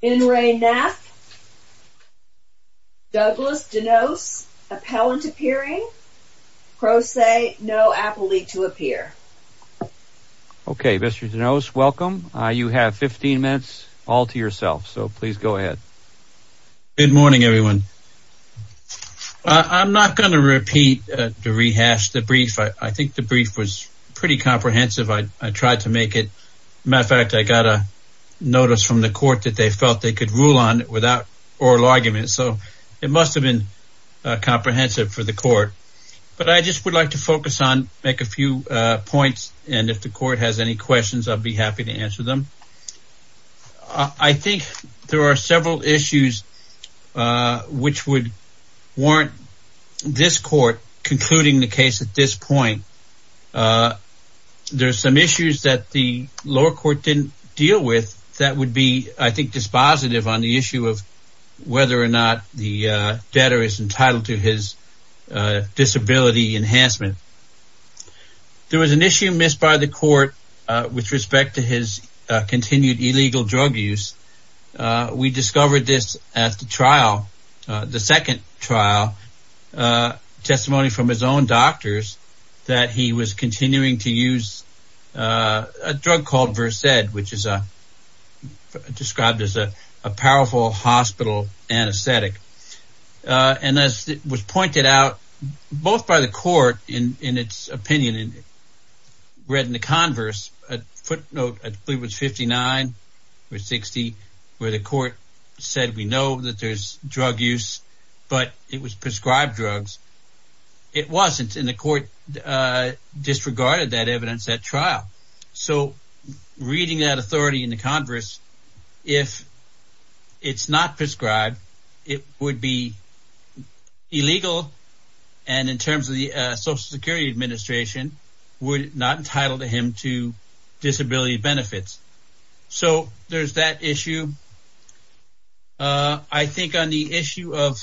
Douglas DeNose, appellant appearing, pro se, no appellee to appear. Okay, Mr. DeNose, welcome. You have 15 minutes all to yourself, so please go ahead. Good morning, everyone. I'm not going to repeat the rehash, the brief. I think the brief was pretty comprehensive. I tried to make it. Matter of fact, I got a notice from the court that they felt they could rule on it without oral argument. So it must have been comprehensive for the court. But I just would like to focus on make a few points. And if the court has any questions, I'll be happy to answer them. I think there are several issues which would warrant this court concluding the case at this point. There are some issues that the lower court didn't deal with that would be, I think, dispositive on the issue of whether or not the debtor is entitled to his disability enhancement. There was an issue missed by the court with respect to his continued illegal drug use. We discovered this at the trial, the second trial, testimony from his own doctors that he was continuing to use a drug called Versed, which is described as a powerful hospital anesthetic. And as it was pointed out, both by the court in its opinion and read in the converse footnote, I believe it was 59 or 60, where the court said, we know that there's drug use, but it was prescribed drugs. It wasn't in the court disregarded that evidence at trial. So reading that authority in the converse, if it's not prescribed, it would be illegal. And in terms of the Social Security Administration, we're not entitled to him to disability benefits. So there's that issue. I think on the issue of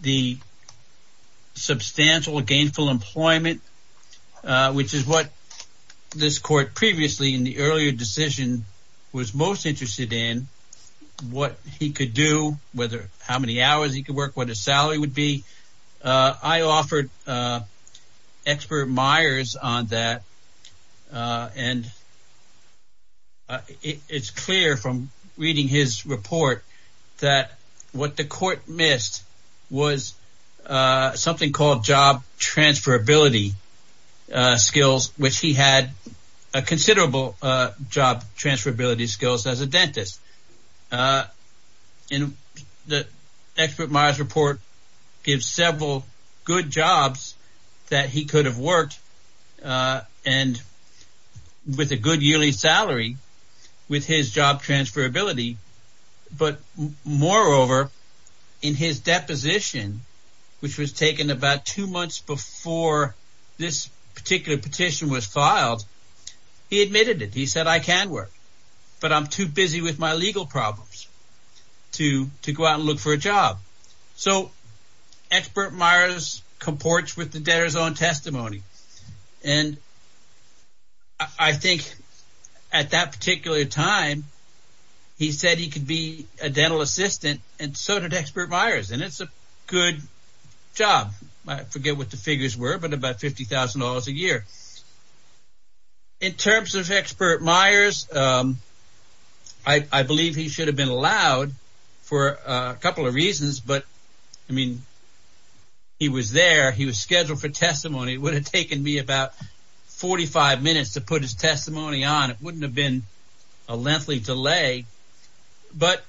the substantial gainful employment, which is what this court previously in the earlier decision was most interested in, what he could do, whether how many hours he could work, what his salary would be. I offered expert Myers on that. And it's clear from reading his report that what the court missed was something called job transferability skills, which he had a considerable job transferability skills as a dentist. And the expert Myers report gives several good jobs that he could have worked and with a good yearly salary with his job transferability. But moreover, in his deposition, which was taken about two months before this particular petition was filed, he admitted it. He said, I can work, but I'm too busy with my legal problems to to go out and look for a job. So expert Myers comports with the debtors on testimony. And I think at that particular time, he said he could be a dental assistant. And so did expert Myers. And it's a good job. I forget what the figures were, but about fifty thousand dollars a year. In terms of expert Myers, I believe he should have been allowed for a couple of reasons, but I mean. He was there. He was scheduled for testimony. It would have taken me about 45 minutes to put his testimony on. It wouldn't have been a lengthy delay. But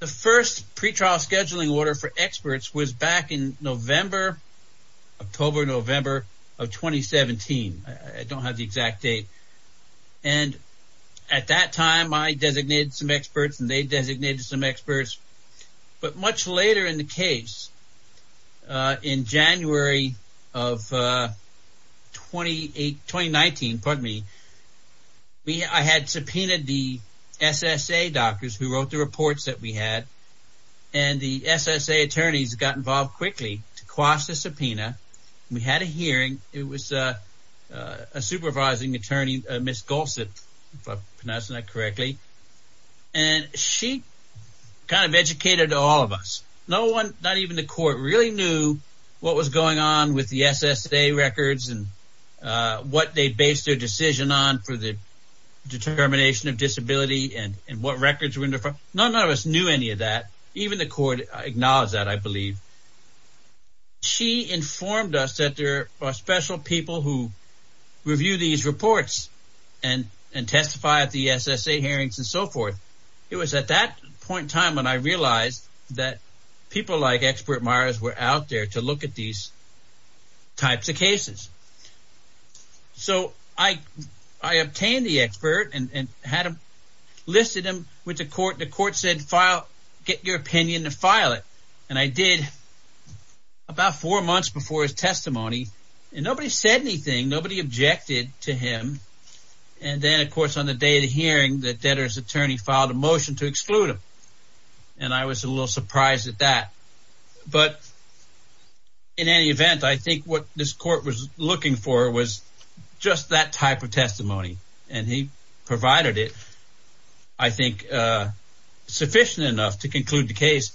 the first pretrial scheduling order for experts was back in November, October, November of 2017. I don't have the exact date. And at that time, I designated some experts and they designated some experts. But much later in the case, in January of twenty eight, twenty nineteen. Pardon me. I had subpoenaed the SSA doctors who wrote the reports that we had. And the SSA attorneys got involved quickly to cross the subpoena. We had a hearing. It was a supervising attorney, Miss Gossett, if I'm pronouncing that correctly. And she kind of educated all of us. No one, not even the court, really knew what was going on with the SSA records and what they based their decision on for the determination of disability and what records were in there. None of us knew any of that. Even the court acknowledged that, I believe. She informed us that there are special people who review these reports and and testify at the SSA hearings and so forth. It was at that point in time when I realized that people like expert Myers were out there to look at these types of cases. So I I obtained the expert and had him listed him with the court. The court said, file, get your opinion to file it. And I did about four months before his testimony. And nobody said anything. Nobody objected to him. And then, of course, on the day of the hearing, the debtor's attorney filed a motion to exclude him. And I was a little surprised at that. But in any event, I think what this court was looking for was just that type of testimony. And he provided it, I think, sufficient enough to conclude the case.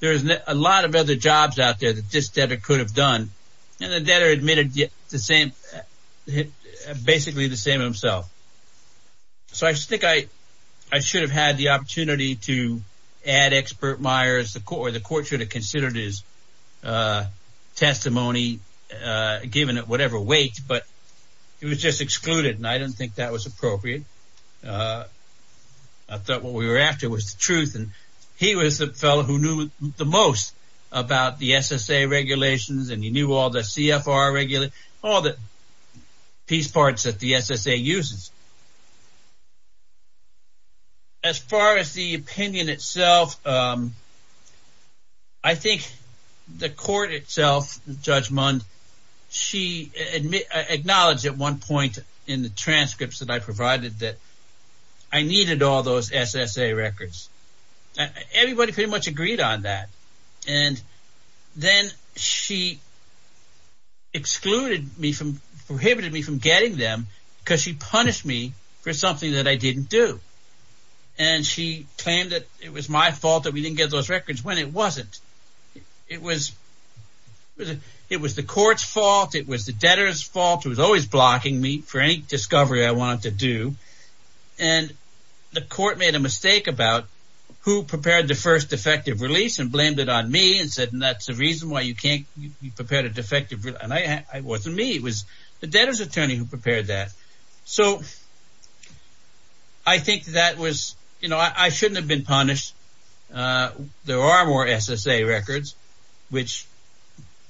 There is a lot of other jobs out there that this debtor could have done. And the debtor admitted the same, basically the same himself. So I think I should have had the opportunity to add expert Myers. The court should have considered his testimony, given it whatever weight. But he was just excluded. And I don't think that was appropriate. I thought what we were after was the truth. And he was the fellow who knew the most about the SSA regulations. And he knew all the CFR regular, all the piece parts that the SSA uses. As far as the opinion itself, I think the court itself, Judge Mund, she acknowledged at one point in the transcripts that I provided that I needed all those SSA records. Everybody pretty much agreed on that. And then she excluded me from, prohibited me from getting them because she punished me for something that I didn't do. And she claimed that it was my fault that we didn't get those records when it wasn't. It was the court's fault. It was the debtor's fault. It was always blocking me for any discovery I wanted to do. And the court made a mistake about who prepared the first defective release and blamed it on me and said that's the reason why you can't prepare the defective. And it wasn't me. It was the debtor's attorney who prepared that. So I think that was, you know, I shouldn't have been punished. There are more SSA records, which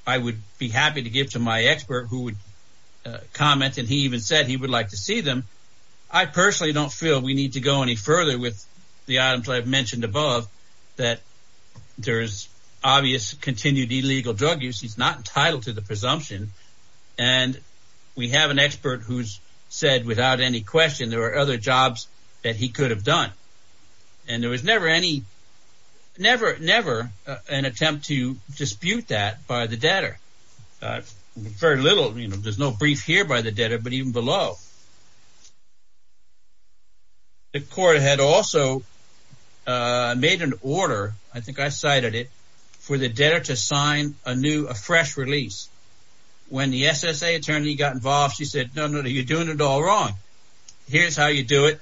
I would be happy to give to my expert who would comment. And he even said he would like to see them. I personally don't feel we need to go any further with the items I've mentioned above that there is obvious continued illegal drug use. He's not entitled to the presumption. And we have an expert who's said without any question there are other jobs that he could have done. And there was never any, never, never an attempt to dispute that by the debtor. Very little, you know, there's no brief here by the debtor, but even below. The court had also made an order, I think I cited it, for the debtor to sign a new, a fresh release. When the SSA attorney got involved, she said no, no, you're doing it all wrong. Here's how you do it.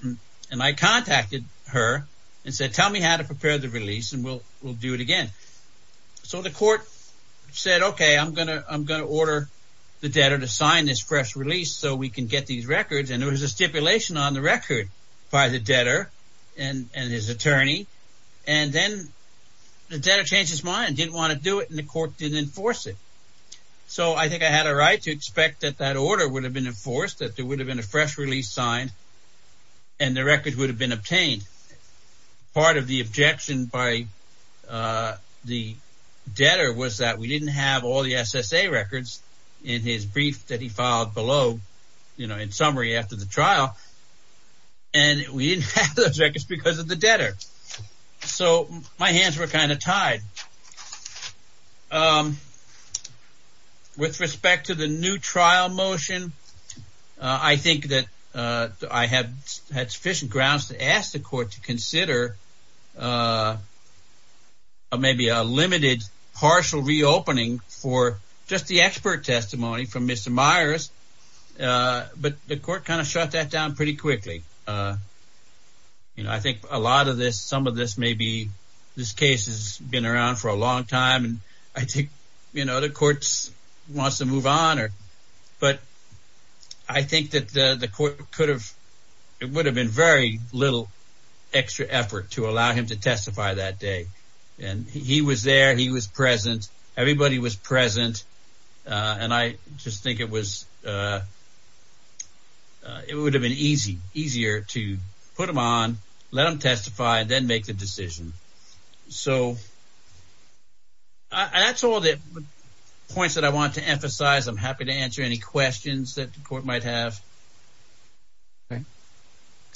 And I contacted her and said tell me how to prepare the release and we'll do it again. So the court said okay, I'm going to order the debtor to sign this fresh release so we can get these records. And there was a stipulation on the record by the debtor and his attorney. And then the debtor changed his mind, didn't want to do it, and the court didn't enforce it. So I think I had a right to expect that that order would have been enforced, that there would have been a fresh release signed and the record would have been obtained. Part of the objection by the debtor was that we didn't have all the SSA records in his brief that he filed below, you know, in summary after the trial. And we didn't have those records because of the debtor. So my hands were kind of tied. With respect to the new trial motion, I think that I had sufficient grounds to ask the court to consider maybe a limited partial reopening for just the expert testimony from Mr. Myers. But the court kind of shut that down pretty quickly. You know, I think a lot of this, some of this may be, this case has been around for a long time and I think, you know, the court wants to move on. But I think that the court could have, it would have been very little extra effort to allow him to testify that day. And he was there, he was present, everybody was present. And I just think it was, it would have been easy, easier to put him on, let him testify and then make the decision. So that's all the points that I want to emphasize. I'm happy to answer any questions that the court might have. Okay.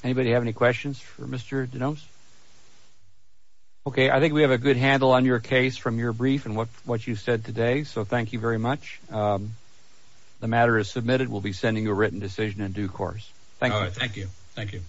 Anybody have any questions for Mr. DeNos? Okay. I think we have a good handle on your case from your brief and what you said today. So thank you very much. The matter is submitted. We'll be sending you a written decision in due course. Thank you. Thank you.